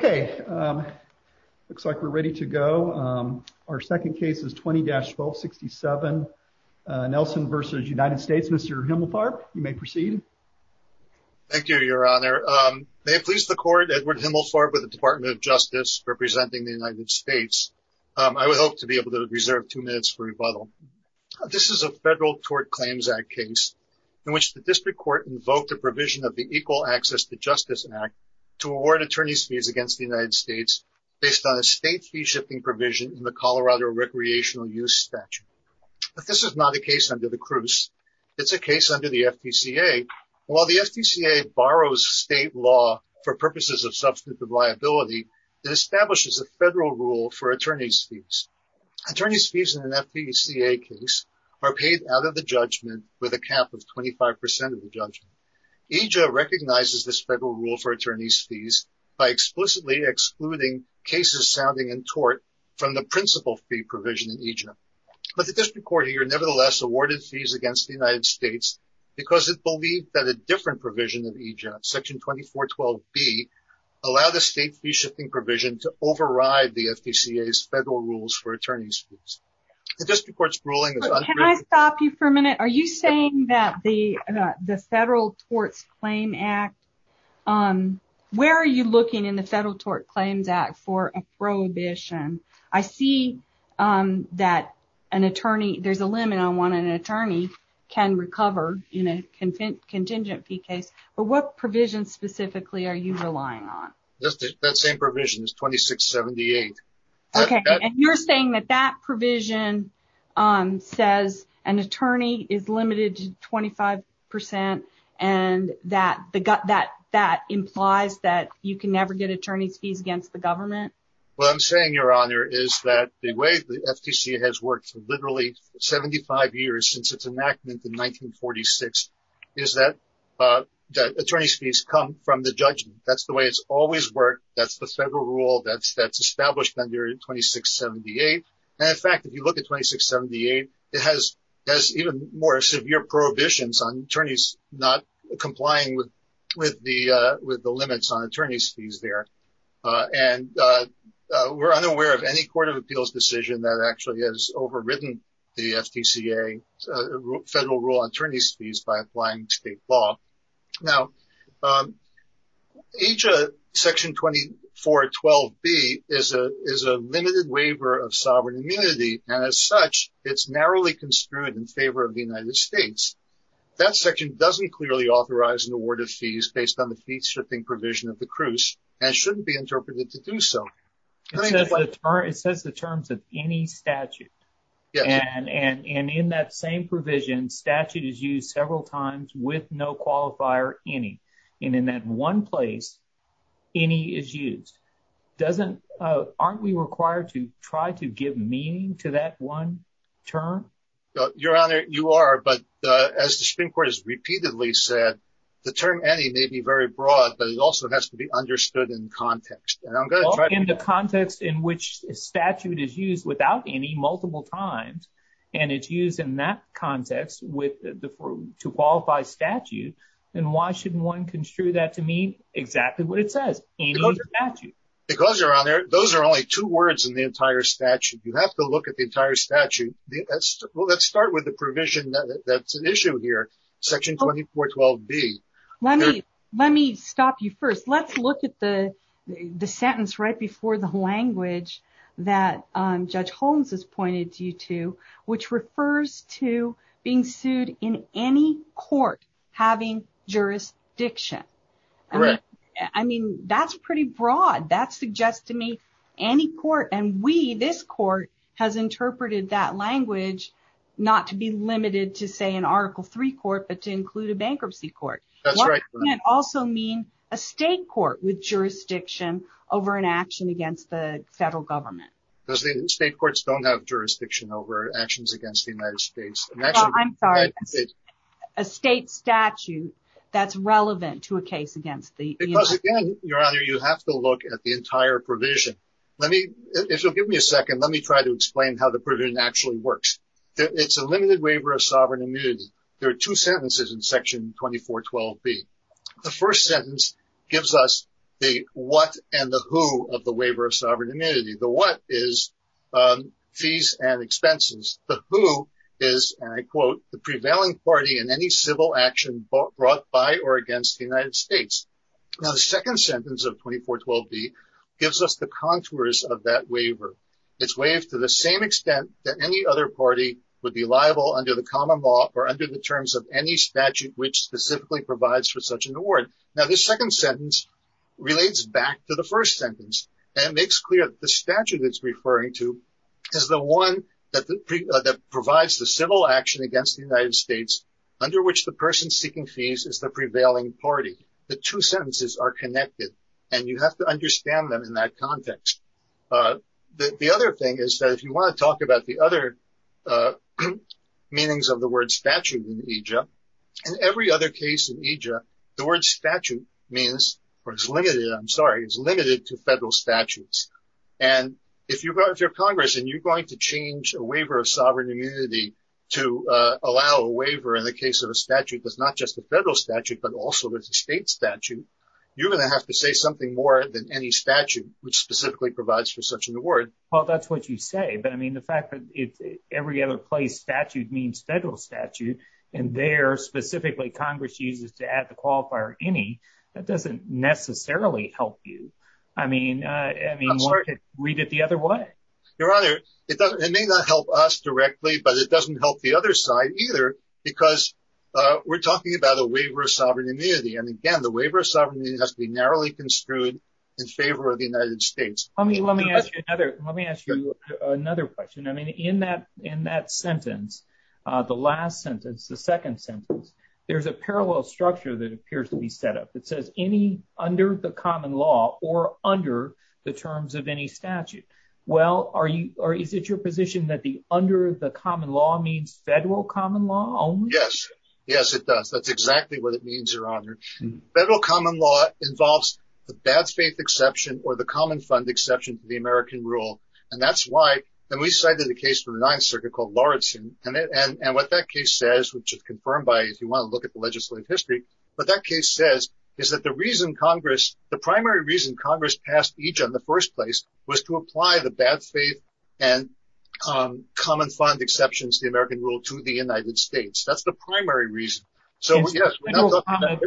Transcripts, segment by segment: Okay, looks like we're ready to go. Our second case is 20-1267, Nelson v. United States. Mr. Himmelfarb, you may proceed. Thank you, Your Honor. May it please the Court, Edward Himmelfarb with the Department of Justice representing the United States. I would hope to be able to reserve two minutes for rebuttal. This is a federal tort claims act case in which the district court invoked a provision of the Equal Access to Justice Act to award attorney's fees against the United States based on a state fee-shifting provision in the Colorado Recreational Use Statute. But this is not a case under the Cruse. It's a case under the FDCA. While the FDCA borrows state law for purposes of substantive liability, it establishes a federal rule for attorney's fees. Attorney's fees in an FDCA case are paid out of the judgment with a cap of 25% of the judgment. EJA recognizes this federal rule for attorney's fees by explicitly excluding cases sounding in tort from the principal fee provision in EJA. But the district court here nevertheless awarded fees against the United States because it believed that a different provision of EJA, Section 2412B, allowed a state fee-shifting provision to override the FDCA's federal rules for attorney's fees. Can I stop you for a minute? Are you saying that the Federal Tort Claims Act, where are you looking in the Federal Tort Claims Act for a prohibition? I see that an attorney, there's a limit on what an attorney can recover in a contingent fee case, but what provision specifically are you relying on? That same provision is 2678. Okay, and you're saying that that provision says an attorney is limited to 25% and that implies that you can never get attorney's fees against the government? What I'm saying, Your Honor, is that the way the FDCA has worked for literally 75 years since its enactment in 1946 is that attorney's fees come from the judgment. That's the way it's always worked. That's the federal rule that's established under 2678. And in fact, if you look at 2678, it has even more severe prohibitions on attorneys not complying with the limits on attorney's fees there. And we're unaware of any Court of Appeals decision that actually has overridden the FDCA federal rule on attorney's fees by applying state law. Now, Section 2412B is a limited waiver of sovereign immunity, and as such, it's narrowly construed in favor of the United States. That section doesn't clearly authorize an award of fees based on the fee-stripping provision of the cruise and shouldn't be interpreted to do so. It says the terms of any statute, and in that same provision, statute is used several times with no qualifier, any. And in that one place, any is used. Aren't we required to try to give meaning to that one term? Your Honor, you are, but as the Supreme Court has repeatedly said, the term any may be very broad, but it also has to be understood in context. In the context in which statute is used without any, multiple times, and it's used in that context to qualify statute, then why shouldn't one construe that to mean exactly what it says, any statute? Those are only two words in the entire statute. You have to look at the entire statute. Well, let's start with the provision that's an issue here, Section 2412B. Let me stop you first. Let's look at the sentence right before the language that Judge Holmes has pointed you to, which refers to being sued in any court having jurisdiction. Correct. I mean, that's pretty broad. That suggests to me any court, and we, this court, has interpreted that language not to be limited to, say, an Article III court, but to include a bankruptcy court. That's right. It can also mean a state court with jurisdiction over an action against the federal government. State courts don't have jurisdiction over actions against the United States. I'm sorry. A state statute that's relevant to a case against the United States. Because, again, Your Honor, you have to look at the entire provision. Let me, if you'll give me a second, let me try to explain how the provision actually works. It's a limited waiver of sovereign immunity. There are two sentences in Section 2412B. The first sentence gives us the what and the who of the waiver of sovereign immunity. The what is fees and expenses. The who is, and I quote, the prevailing party in any civil action brought by or against the United States. Now, the second sentence of 2412B gives us the contours of that waiver. It's waived to the same extent that any other party would be liable under the common law or under the terms of any statute which specifically provides for such an award. Now, this second sentence relates back to the first sentence and makes clear the statute it's referring to is the one that provides the civil action against the United States under which the person seeking fees is the prevailing party. The two sentences are connected and you have to understand them in that context. The other thing is that if you want to talk about the other meanings of the word statute in EJA, in every other case in EJA, the word statute means, or is limited, I'm sorry, is limited to federal statutes. And if you're Congress and you're going to change a waiver of sovereign immunity to allow a waiver in the case of a statute that's not just a federal statute, but also there's a state statute, you're going to have to say something more than any statute which specifically provides for such an award. Well, that's what you say. But I mean, the fact that every other place statute means federal statute and there specifically Congress uses to add the qualifier any, that doesn't necessarily help you. I mean, read it the other way. Your Honor, it may not help us directly, but it doesn't help the other side either, because we're talking about a waiver of sovereign immunity. And again, the waiver of sovereign immunity has to be narrowly construed in favor of the United States. Let me ask you another question. I mean, in that sentence, the last sentence, the second sentence, there's a parallel structure that appears to be set up. It says any under the common law or under the terms of any statute. Well, is it your position that the under the common law means federal common law only? Yes. Yes, it does. That's exactly what it means, Your Honor. Federal common law involves the bad faith exception or the common fund exception to the American rule. And that's why we cited the case for the Ninth Circuit called Lawrenson. And what that case says, which is confirmed by if you want to look at the legislative history. But that case says is that the reason Congress, the primary reason Congress passed each in the first place, was to apply the bad faith and common fund exceptions, the American rule to the United States. That's the primary reason. So, yes,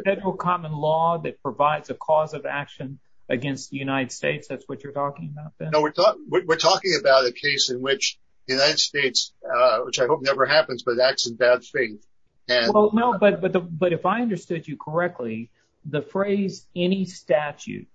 federal common law that provides a cause of action against the United States. That's what you're talking about. No, we're talking about a case in which the United States, which I hope never happens, but acts in bad faith. No, but if I understood you correctly, the phrase any statute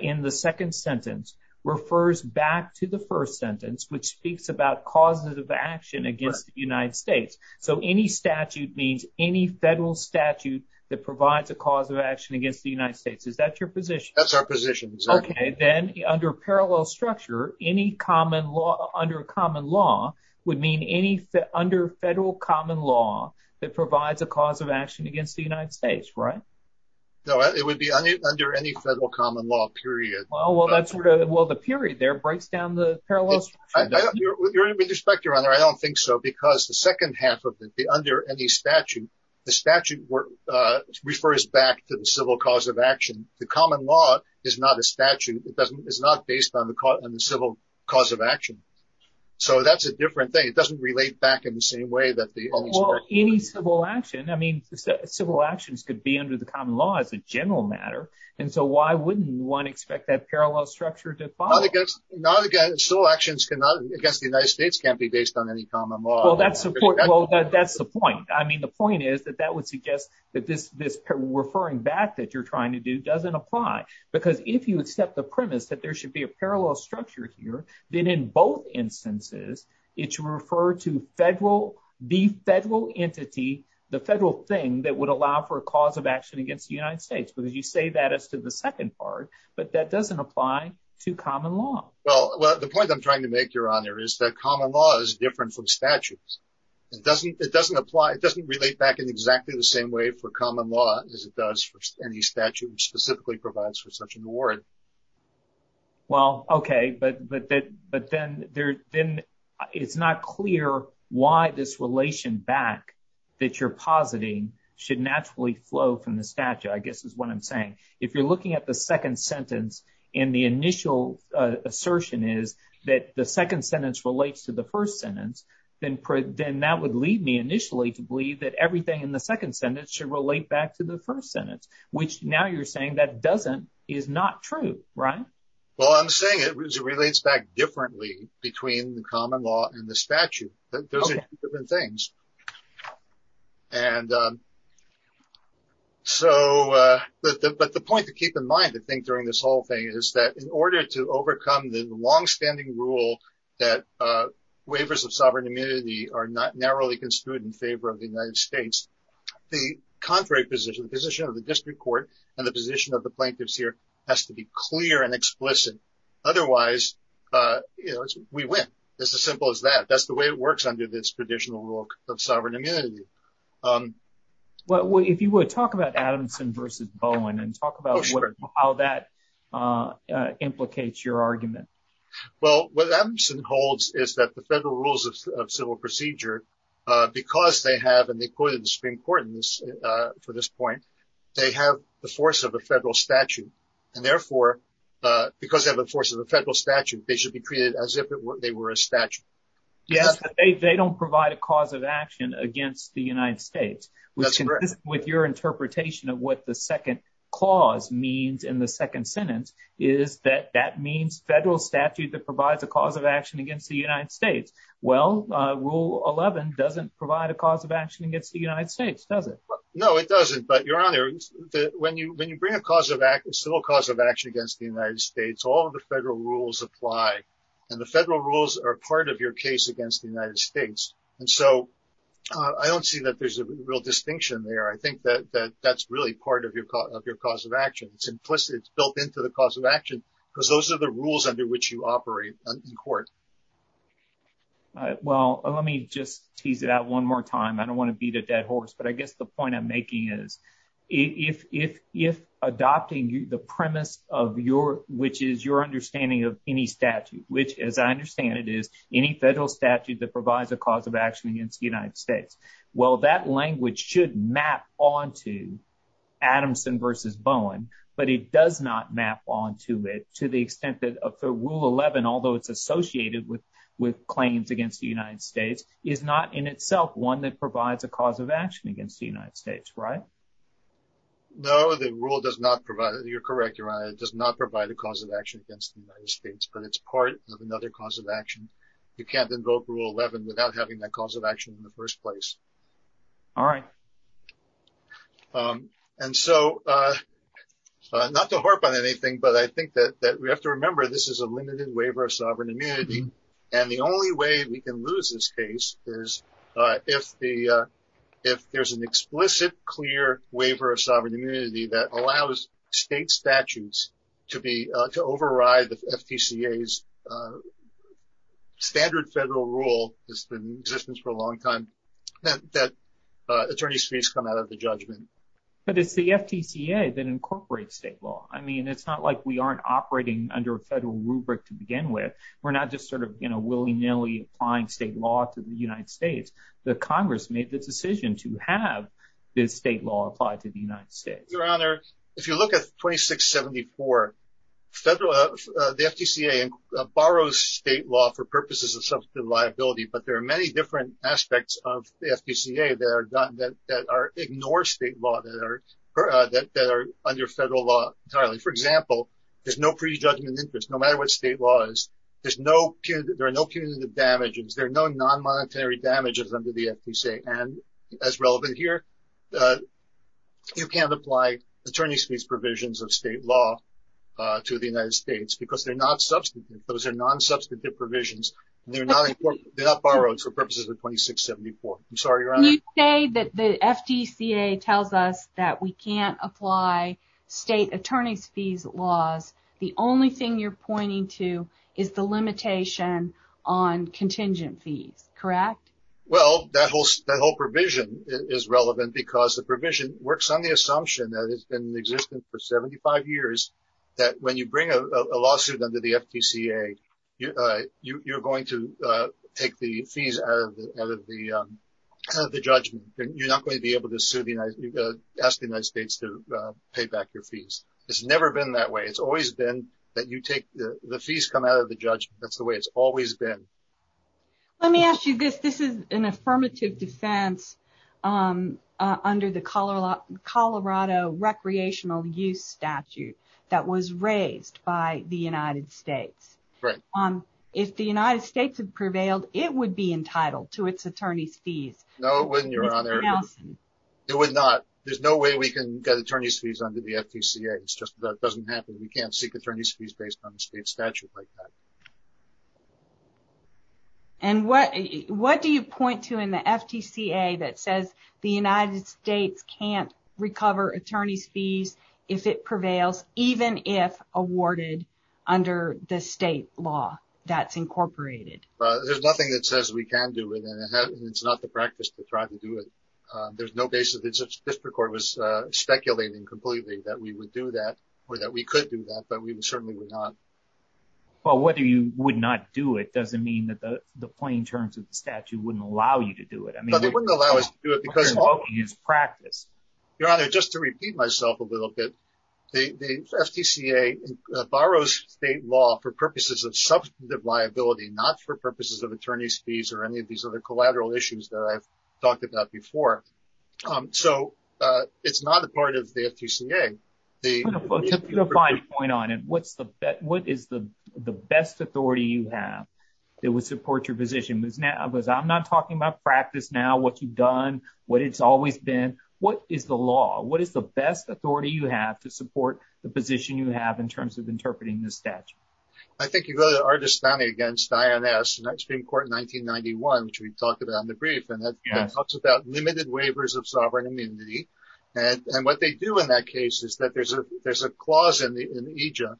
in the second sentence refers back to the first sentence, which speaks about causes of action against the United States. So any statute means any federal statute that provides a cause of action against the United States. Is that your position? That's our position. Okay. Then under parallel structure, any common law under common law would mean any under federal common law that provides a cause of action against the United States. Right. No, it would be under any federal common law period. Well, well, that's sort of. Well, the period there breaks down the parallels. With respect, Your Honor, I don't think so, because the second half of the under any statute, the statute refers back to the civil cause of action. The common law is not a statute. It doesn't. It's not based on the civil cause of action. So that's a different thing. It doesn't relate back in the same way that the. Well, any civil action. I mean, civil actions could be under the common law as a general matter. And so why wouldn't one expect that parallel structure to follow? Not against civil actions against the United States can't be based on any common law. Well, that's the point. I mean, the point is that that would suggest that this this referring back that you're trying to do doesn't apply, because if you accept the premise that there should be a parallel structure here, then in both instances, it's referred to federal, the federal entity, the federal thing that would allow for a cause of action against the United States. But as you say that as to the second part, but that doesn't apply to common law. Well, the point I'm trying to make, Your Honor, is that common law is different from statutes. It doesn't it doesn't apply. It doesn't relate back in exactly the same way for common law as it does for any statute specifically provides for such an award. Well, OK, but but but then there then it's not clear why this relation back that you're positing should naturally flow from the statute, I guess, is what I'm saying. If you're looking at the second sentence in the initial assertion is that the second sentence relates to the first sentence, then then that would lead me initially to believe that everything in the second sentence should relate back to the first sentence, which now you're saying that doesn't is not true. Right. Well, I'm saying it relates back differently between the common law and the statute. Those are different things. And so but the point to keep in mind, I think, during this whole thing is that in order to overcome the longstanding rule that waivers of sovereign immunity are not narrowly construed in favor of the United States. The contrary position, the position of the district court and the position of the plaintiffs here has to be clear and explicit. Otherwise, we win. It's as simple as that. That's the way it works under this traditional rule of sovereign immunity. Well, if you would talk about Adamson versus Bowen and talk about how that implicates your argument. Well, what Adamson holds is that the federal rules of civil procedure, because they have and they put in the Supreme Court for this point, they have the force of a federal statute. And therefore, because of the force of the federal statute, they should be treated as if they were a statute. Yes. They don't provide a cause of action against the United States. With your interpretation of what the second clause means in the second sentence is that that means federal statute that provides a cause of action against the United States. Well, rule 11 doesn't provide a cause of action against the United States, does it? No, it doesn't. But your honor, when you bring a cause of civil cause of action against the United States, all of the federal rules apply. And the federal rules are part of your case against the United States. And so I don't see that there's a real distinction there. I think that that's really part of your of your cause of action. It's implicit. It's built into the cause of action because those are the rules under which you operate in court. Well, let me just tease it out one more time. I don't want to beat a dead horse. But I guess the point I'm making is if if if adopting the premise of your which is your understanding of any statute, which, as I understand it, is any federal statute that provides a cause of action against the United States. Well, that language should map on to Adamson versus Bowen. But it does not map on to it to the extent that the rule 11, although it's associated with with claims against the United States, is not in itself one that provides a cause of action against the United States. Right. No, the rule does not provide. You're correct. Your honor, it does not provide a cause of action against the United States, but it's part of another cause of action. You can't invoke rule 11 without having that cause of action in the first place. All right. And so not to harp on anything, but I think that we have to remember this is a limited waiver of sovereign immunity. And the only way we can lose this case is if the if there's an explicit, clear waiver of sovereign immunity that allows state statutes to be to override the FTC's standard federal rule has been in existence for a long time. That attorney's fees come out of the judgment, but it's the FTC that incorporates state law. I mean, it's not like we aren't operating under a federal rubric to begin with. We're not just sort of, you know, willy nilly applying state law to the United States. The Congress made the decision to have this state law applied to the United States. Your honor, if you look at 2674 federal, the FTCA borrows state law for purposes of substantive liability. But there are many different aspects of the FTCA that are that are ignore state law that are that are under federal law. For example, there's no prejudgment interest no matter what state laws. There's no punitive. There are no non-monetary damages under the FTCA. And as relevant here, you can't apply attorney's fees provisions of state law to the United States because they're not substantive. Those are non-substantive provisions. They're not borrowed for purposes of 2674. I'm sorry, your honor. You say that the FTCA tells us that we can't apply state attorney's fees laws. The only thing you're pointing to is the limitation on contingent fees. Correct. Well, that whole that whole provision is relevant because the provision works on the assumption that it's been in existence for 75 years. That when you bring a lawsuit under the FTCA, you're going to take the fees out of the judgment. You're not going to be able to sue the United States, ask the United States to pay back your fees. It's never been that way. It's always been that you take the fees come out of the judgment. That's the way it's always been. Let me ask you this. This is an affirmative defense under the Colorado recreational use statute that was raised by the United States. If the United States had prevailed, it would be entitled to its attorney's fees. No, it wouldn't, your honor. It would not. There's no way we can get attorney's fees under the FTCA. It's just that doesn't happen. We can't seek attorney's fees based on the state statute like that. And what what do you point to in the FTCA that says the United States can't recover attorney's fees if it prevails, even if awarded under the state law that's incorporated? There's nothing that says we can do it. And it's not the practice to try to do it. There's no basis that such district court was speculating completely that we would do that or that we could do that. But we certainly would not. Well, whether you would not do it doesn't mean that the plain terms of the statute wouldn't allow you to do it. I mean, they wouldn't allow us to do it because it's practice. Your honor, just to repeat myself a little bit. The FTCA borrows state law for purposes of substantive liability, not for purposes of attorney's fees or any of these other collateral issues that I've talked about before. So it's not a part of the FTCA. The point on it. What's the what is the the best authority you have that would support your position? Now, because I'm not talking about practice now, what you've done, what it's always been. What is the law? What is the best authority you have to support the position you have in terms of interpreting the statute? I think you go to Ardestani against INS and that Supreme Court in 1991, which we talked about in the brief. And that talks about limited waivers of sovereign immunity. And what they do in that case is that there's a there's a clause in the EJ.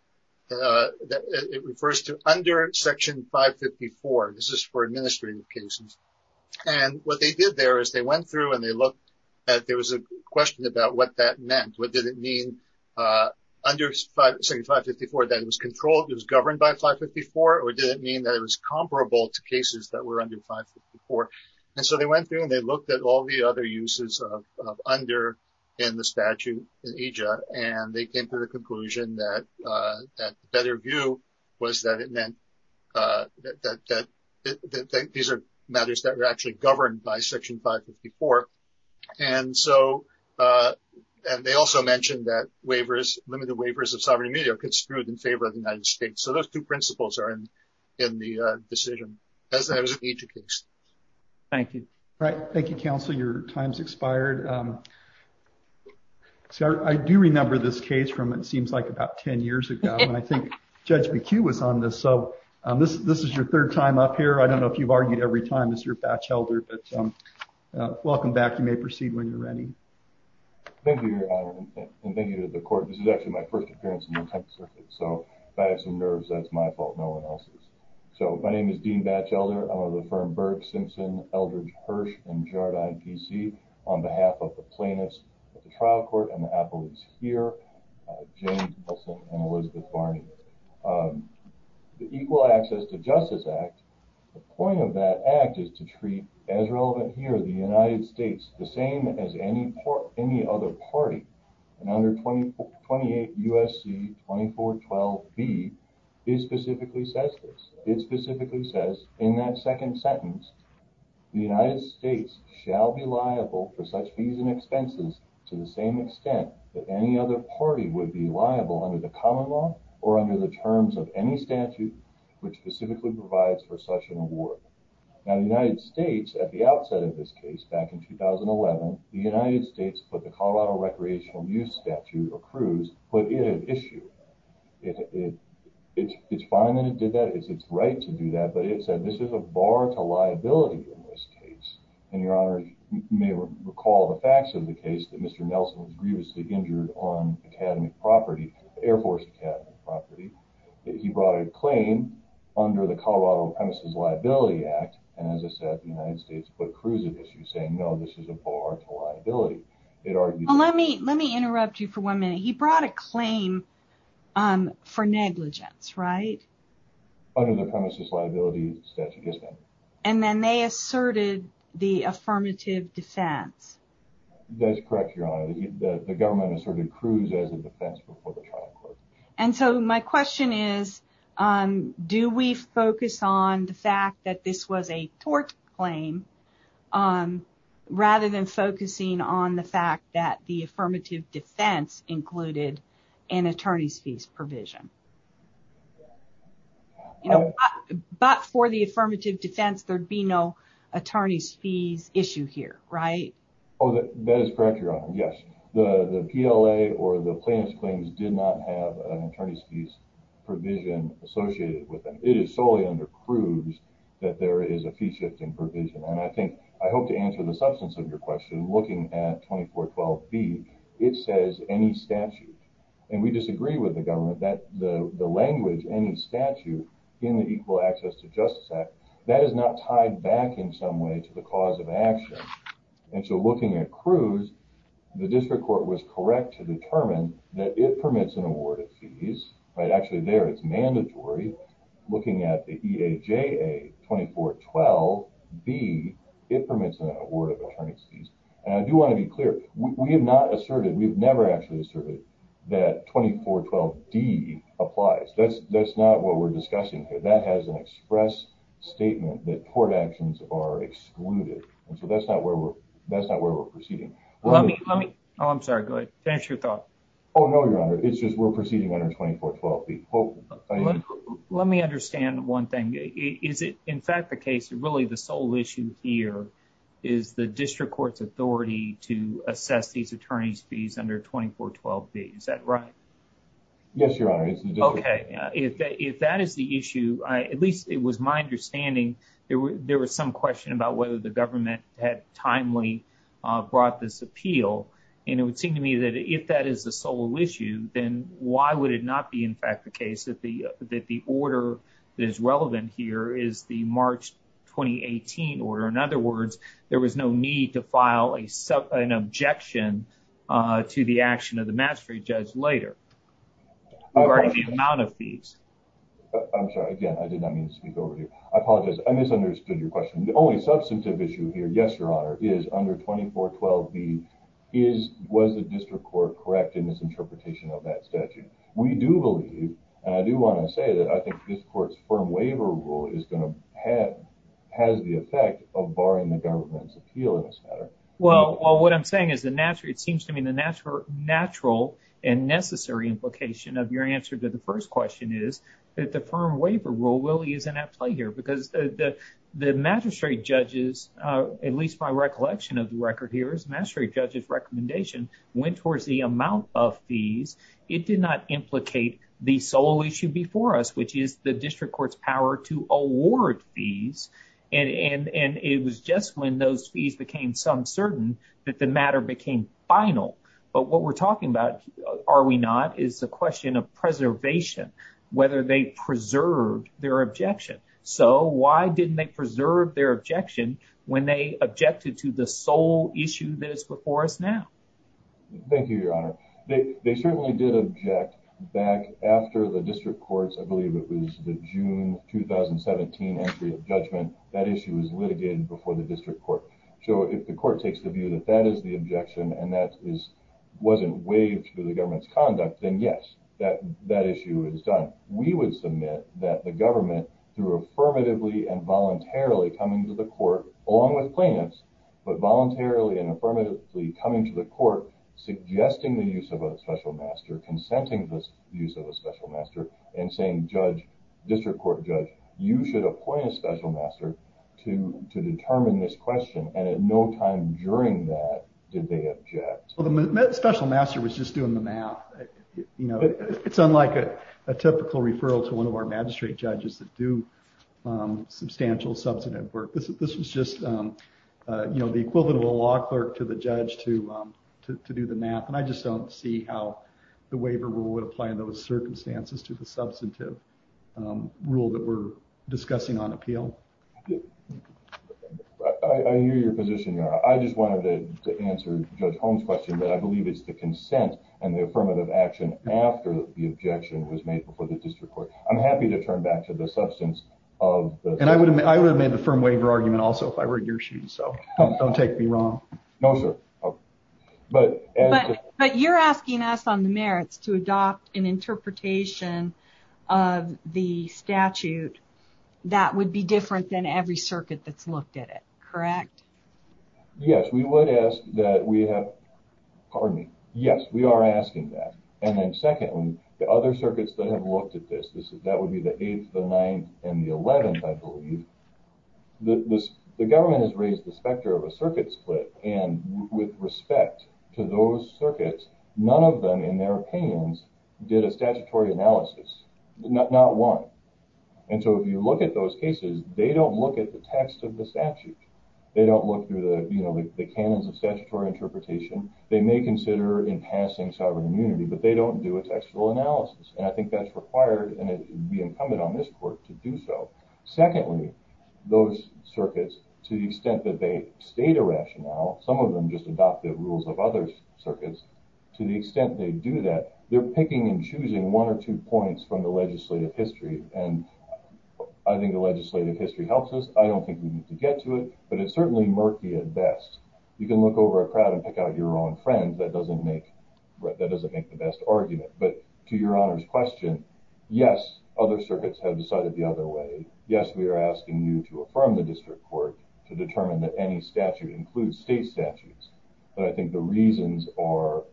It refers to under Section 554. This is for administrative cases. And what they did there is they went through and they looked at there was a question about what that meant. What did it mean under 554 that it was controlled, it was governed by 554? Or did it mean that it was comparable to cases that were under 554? And so they went through and they looked at all the other uses of under in the statute in EJ. And they came to the conclusion that that better view was that it meant that these are matters that are actually governed by Section 554. And so they also mentioned that waivers, limited waivers of sovereign immunity are construed in favor of the United States. So those two principles are in the decision. Thank you. Right. Thank you, counsel. Your time's expired. So I do remember this case from it seems like about 10 years ago. And I think Judge McHugh was on this. So this is your third time up here. I don't know if you've argued every time, Mr. Batchelder, but welcome back. You may proceed when you're ready. Thank you, Your Honor. And thank you to the court. This is actually my first appearance in the attempted circuit. So I have some nerves. That's my fault. No one else's. So my name is Dean Batchelder. I'm of the firm Burke Simpson, Eldridge Hirsch and Jardine, D.C. on behalf of the plaintiffs at the trial court and the appellates here, James Wilson and Elizabeth Varney. The Equal Access to Justice Act, the point of that act is to treat as relevant here, the United States, the same as any other party. And under 28 U.S.C. 2412B, it specifically says this. It specifically says in that second sentence, the United States shall be liable for such fees and expenses to the same extent that any other party would be liable under the common law or under the terms of any statute which specifically provides for such an award. Now, the United States, at the outset of this case back in 2011, the United States put the Colorado Recreational Use Statute, or CREWS, put it at issue. It's fine that it did that. It's its right to do that. But it said this is a bar to liability in this case. And Your Honor, you may recall the facts of the case that Mr. Nelson was grievously injured on academic property, Air Force Academy property. He brought a claim under the Colorado Premises Liability Act. And as I said, the United States put CREWS at issue saying, no, this is a bar to liability. Let me interrupt you for one minute. He brought a claim for negligence, right? Under the Premises Liability Statute, yes, ma'am. And then they asserted the affirmative defense. That's correct, Your Honor. The government asserted CREWS as a defense before the trial court. And so my question is, do we focus on the fact that this was a tort claim, rather than focusing on the fact that the affirmative defense included an attorney's fees provision? But for the affirmative defense, there'd be no attorney's fees issue here, right? Oh, that is correct, Your Honor. Yes. The PLA or the plaintiff's claims did not have an attorney's fees provision associated with them. It is solely under CREWS that there is a fee shifting provision. And I think I hope to answer the substance of your question. Looking at 2412B, it says any statute. And we disagree with the government that the language, any statute in the Equal Access to Justice Act, that is not tied back in some way to the cause of action. And so looking at CREWS, the district court was correct to determine that it permits an award of fees, right? Actually, there it's mandatory. Looking at the EAJA 2412B, it permits an award of attorney's fees. And I do want to be clear, we have not asserted, we've never actually asserted that 2412D applies. That's not what we're discussing here. That has an express statement that tort actions are excluded. And so that's not where we're proceeding. Oh, I'm sorry. Go ahead. Finish your thought. Oh, no, Your Honor. It's just we're proceeding under 2412B. Let me understand one thing. Is it in fact the case that really the sole issue here is the district court's authority to assess these attorney's fees under 2412B? Is that right? Yes, Your Honor. Okay. If that is the issue, at least it was my understanding there was some question about whether the government had timely brought this appeal. And it would seem to me that if that is the sole issue, then why would it not be in fact the case that the order that is relevant here is the March 2018 order? In other words, there was no need to file an objection to the action of the mastery judge later regarding the amount of fees. I'm sorry. Again, I did not mean to speak over here. I apologize. I misunderstood your question. The only substantive issue here, yes, Your Honor, is under 2412B, was the district court correct in its interpretation of that statute? We do believe, and I do want to say that I think this court's firm waiver rule has the effect of barring the government's appeal in this matter. Well, what I'm saying is it seems to me the natural and necessary implication of your answer to the first question is that the firm waiver rule really isn't at play here. Because the magistrate judges, at least my recollection of the record here is the magistrate judge's recommendation went towards the amount of fees. It did not implicate the sole issue before us, which is the district court's power to award fees. And it was just when those fees became some certain that the matter became final. But what we're talking about, are we not, is the question of preservation, whether they preserved their objection. So why didn't they preserve their objection when they objected to the sole issue that is before us now? Thank you, Your Honor. They certainly did object back after the district court's, I believe it was the June 2017 entry of judgment, that issue was litigated before the district court. So if the court takes the view that that is the objection and that wasn't waived through the government's conduct, then yes, that issue is done. We would submit that the government, through affirmatively and voluntarily coming to the court, along with plaintiffs, but voluntarily and affirmatively coming to the court, suggesting the use of a special master, consenting to the use of a special master, and saying, judge, district court judge, you should appoint a special master to determine this question. And at no time during that did they object. The special master was just doing the math. It's unlike a typical referral to one of our magistrate judges that do substantial substantive work. This was just the equivalent of a law clerk to the judge to do the math. And I just don't see how the waiver rule would apply in those circumstances to the substantive rule that we're discussing on appeal. I hear your position, Your Honor. I just wanted to answer Judge Holmes' question, but I believe it's the consent and the affirmative action after the objection was made before the district court. I'm happy to turn back to the substance of... And I would have made the firm waiver argument also if I were in your shoes, so don't take me wrong. No, sir. But you're asking us on the merits to adopt an interpretation of the statute that would be different than every circuit that's looked at it, correct? Yes, we would ask that we have... Pardon me. Yes, we are asking that. And then secondly, the other circuits that have looked at this, that would be the 8th, the 9th, and the 11th, I believe. The government has raised the specter of a circuit split, and with respect to those circuits, none of them, in their opinions, did a statutory analysis. Not one. And so if you look at those cases, they don't look at the text of the statute. They don't look through the canons of statutory interpretation. They may consider in passing sovereign immunity, but they don't do a textual analysis. And I think that's required, and it would be incumbent on this court to do so. Secondly, those circuits, to the extent that they state a rationale, some of them just adopt the rules of other circuits, to the extent they do that, they're picking and choosing one or two points from the legislative history, and I think the legislative history helps us. I don't think we need to get to it, but it's certainly murky at best. You can look over a crowd and pick out your own friend. That doesn't make the best argument. But to Your Honor's question, yes, other circuits have decided the other way. Yes, we are asking you to affirm the district court to determine that any statute includes state statutes, but I think the reasons are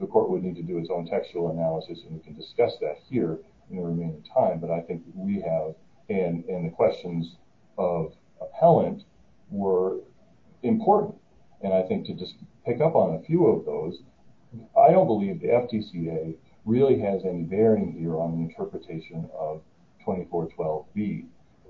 the court would need to do its own textual analysis, and we can discuss that here in the remaining time, but I think we have, and the questions of appellant were important, and I think to just pick up on a few of those, I don't believe the FTCA really has any bearing here on the interpretation of 2412B.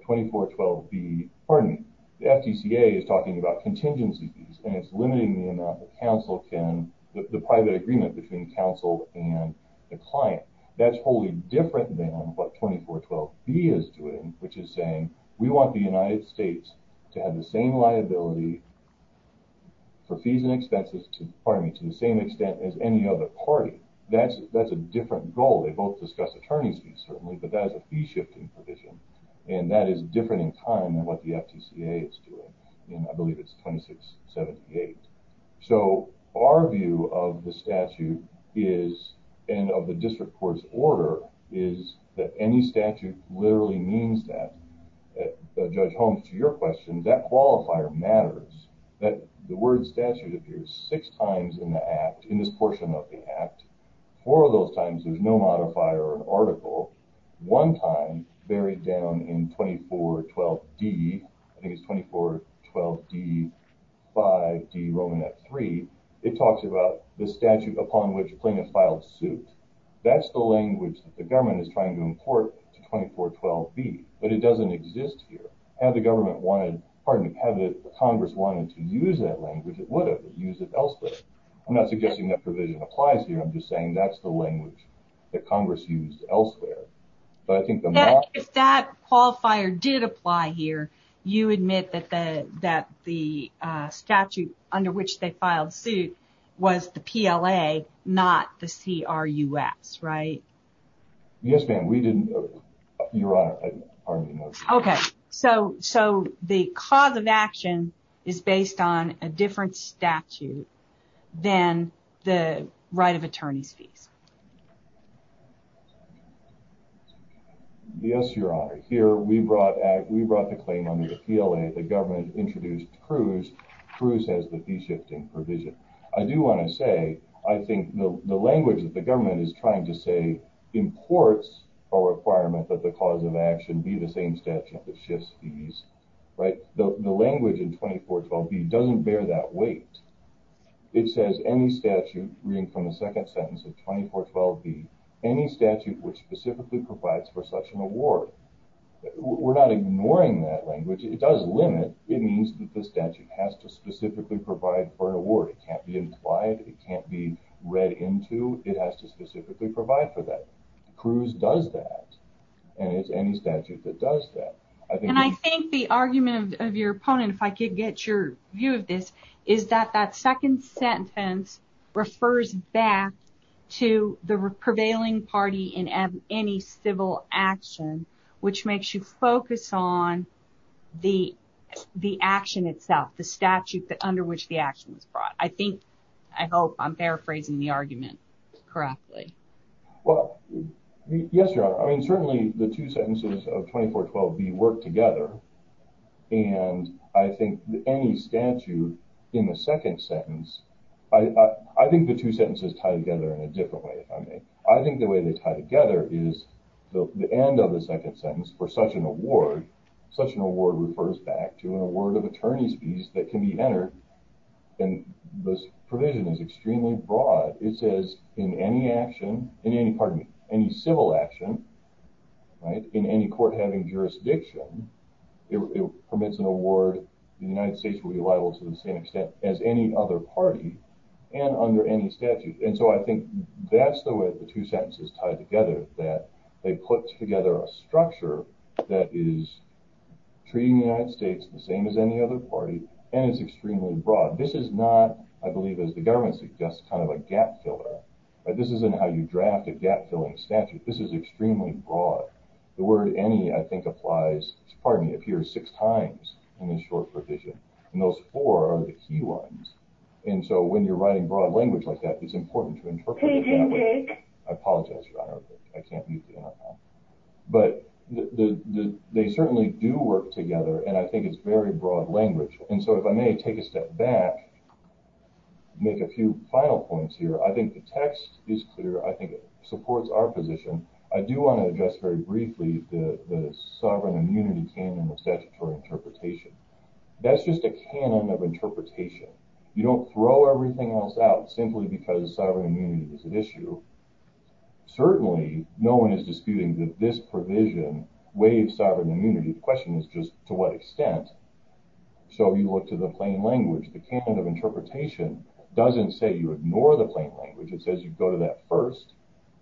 2412B, pardon me, the FTCA is talking about contingency fees, and it's limiting the amount that counsel can, the private agreement between counsel and the client. That's wholly different than what 2412B is doing, which is saying, we want the United States to have the same liability for fees and expenses, pardon me, to the same extent as any other party. That's a different goal. They both discuss attorney's fees, certainly, but that is a fee-shifting provision, and that is different in time than what the FTCA is doing, and I believe it's 2678. So, our view of the statute is, and of the district court's order, is that any statute literally means that. Judge Holmes, to your question, that qualifier matters. The word statute appears six times in the act, in this portion of the act. Four of those times, there's no modifier or article. One time, buried down in 2412D, I think it's 2412D5D Romanette 3, it talks about the statute upon which a plaintiff filed suit. That's the language that the government is trying to import to 2412B, but it doesn't exist here. Had the government wanted, pardon me, had the Congress wanted to use that language, it would have. It used it elsewhere. I'm not suggesting that provision applies here. I'm just saying that's the language that Congress used elsewhere. If that qualifier did apply here, you admit that the statute under which they filed suit was the PLA, not the CRUS, right? Yes, ma'am. We didn't. Your Honor, pardon me. The cause of action is based on a different statute than the right of attorney's fees. Yes, Your Honor. Here, we brought the claim under the PLA. The government introduced CRUS. CRUS has the fee-shifting provision. I do want to say, I think the language that the government is trying to say imports a requirement that the cause of action be the same statute that shifts fees, right? The language in 2412B doesn't bear that weight. It says any statute, reading from the second sentence of 2412B, any statute which specifically provides for such an award. We're not ignoring that language. It does limit. It means that the statute has to specifically provide for an award. It can't be implied. It can't be read into. It has to specifically provide for that. CRUS does that, and it's any statute that does that. And I think the argument of your opponent, if I could get your view of this, is that that second sentence refers back to the prevailing party in any civil action, which makes you focus on the action itself, the statute under which the action was brought. I think, I hope I'm paraphrasing the argument correctly. Well, yes, Your Honor. I mean, certainly the two sentences of 2412B work together. And I think any statute in the second sentence, I think the two sentences tie together in a different way, if I may. I think the way they tie together is the end of the second sentence for such an award, such an award refers back to an award of attorney's fees that can be entered. And this provision is extremely broad. It says in any action, pardon me, any civil action, right, in any court having jurisdiction, it permits an award, the United States will be liable to the same extent as any other party and under any statute. And so I think that's the way the two sentences tie together, that they put together a structure that is treating the United States the same as any other party. And it's extremely broad. This is not, I believe, as the government suggests, kind of a gap filler. This isn't how you draft a gap filling statute. This is extremely broad. The word any, I think, applies, pardon me, appears six times in this short provision. And those four are the key ones. And so when you're writing broad language like that, it's important to interpret it that way. I apologize, Your Honor, I can't use the NFL. But they certainly do work together, and I think it's very broad language. And so if I may take a step back, make a few final points here. I think the text is clear. I think it supports our position. I do want to address very briefly the sovereign immunity canon of statutory interpretation. That's just a canon of interpretation. You don't throw everything else out simply because sovereign immunity is at issue. Certainly, no one is disputing that this provision waives sovereign immunity. The question is just to what extent. So you look to the plain language. The canon of interpretation doesn't say you ignore the plain language. It says you go to that first.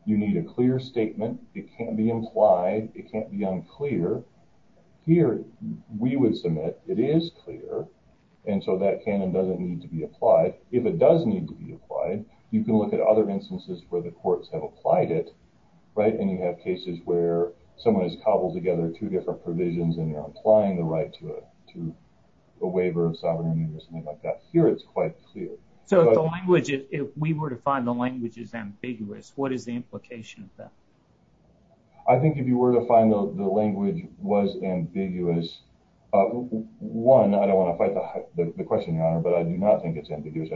You need a clear statement. It can't be implied. It can't be unclear. Here, we would submit it is clear, and so that canon doesn't need to be applied. If it does need to be applied, you can look at other instances where the courts have applied it. And you have cases where someone has cobbled together two different provisions, and they're applying the right to a waiver of sovereign immunity or something like that. Here, it's quite clear. So if we were to find the language is ambiguous, what is the implication of that? I think if you were to find the language was ambiguous, one, I don't want to fight the question, Your Honor, but I do not think it's ambiguous.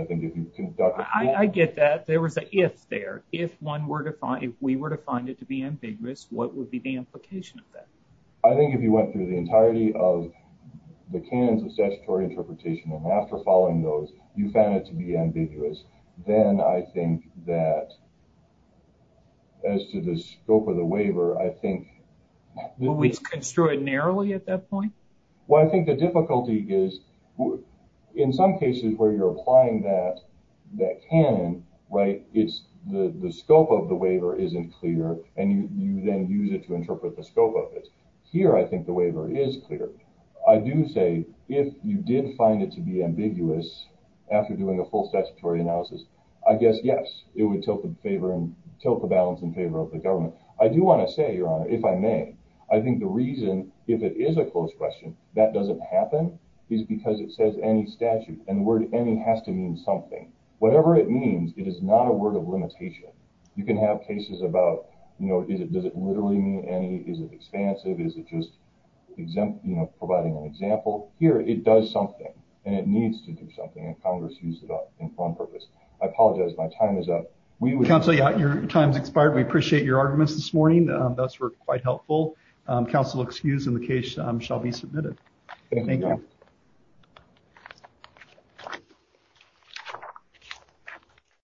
I get that. There was an if there. If we were to find it to be ambiguous, what would be the implication of that? I think if you went through the entirety of the canons of statutory interpretation and after following those, you found it to be ambiguous, then I think that as to the scope of the waiver, I think. Would we construe it narrowly at that point? Well, I think the difficulty is in some cases where you're applying that canon, right, it's the scope of the waiver isn't clear, and you then use it to interpret the scope of it. Here, I think the waiver is clear. I do say if you did find it to be ambiguous after doing a full statutory analysis, I guess, yes, it would tilt the balance in favor of the government. I do want to say, Your Honor, if I may, I think the reason, if it is a closed question, that doesn't happen is because it says any statute, and the word any has to mean something. Whatever it means, it is not a word of limitation. You can have cases about, you know, does it literally mean any? Is it expansive? Is it just providing an example? Here, it does something, and it needs to do something, and Congress used it in one purpose. I apologize. My time is up. Counsel, your time has expired. We appreciate your arguments this morning. Those were quite helpful. Counsel excused, and the case shall be submitted. Thank you.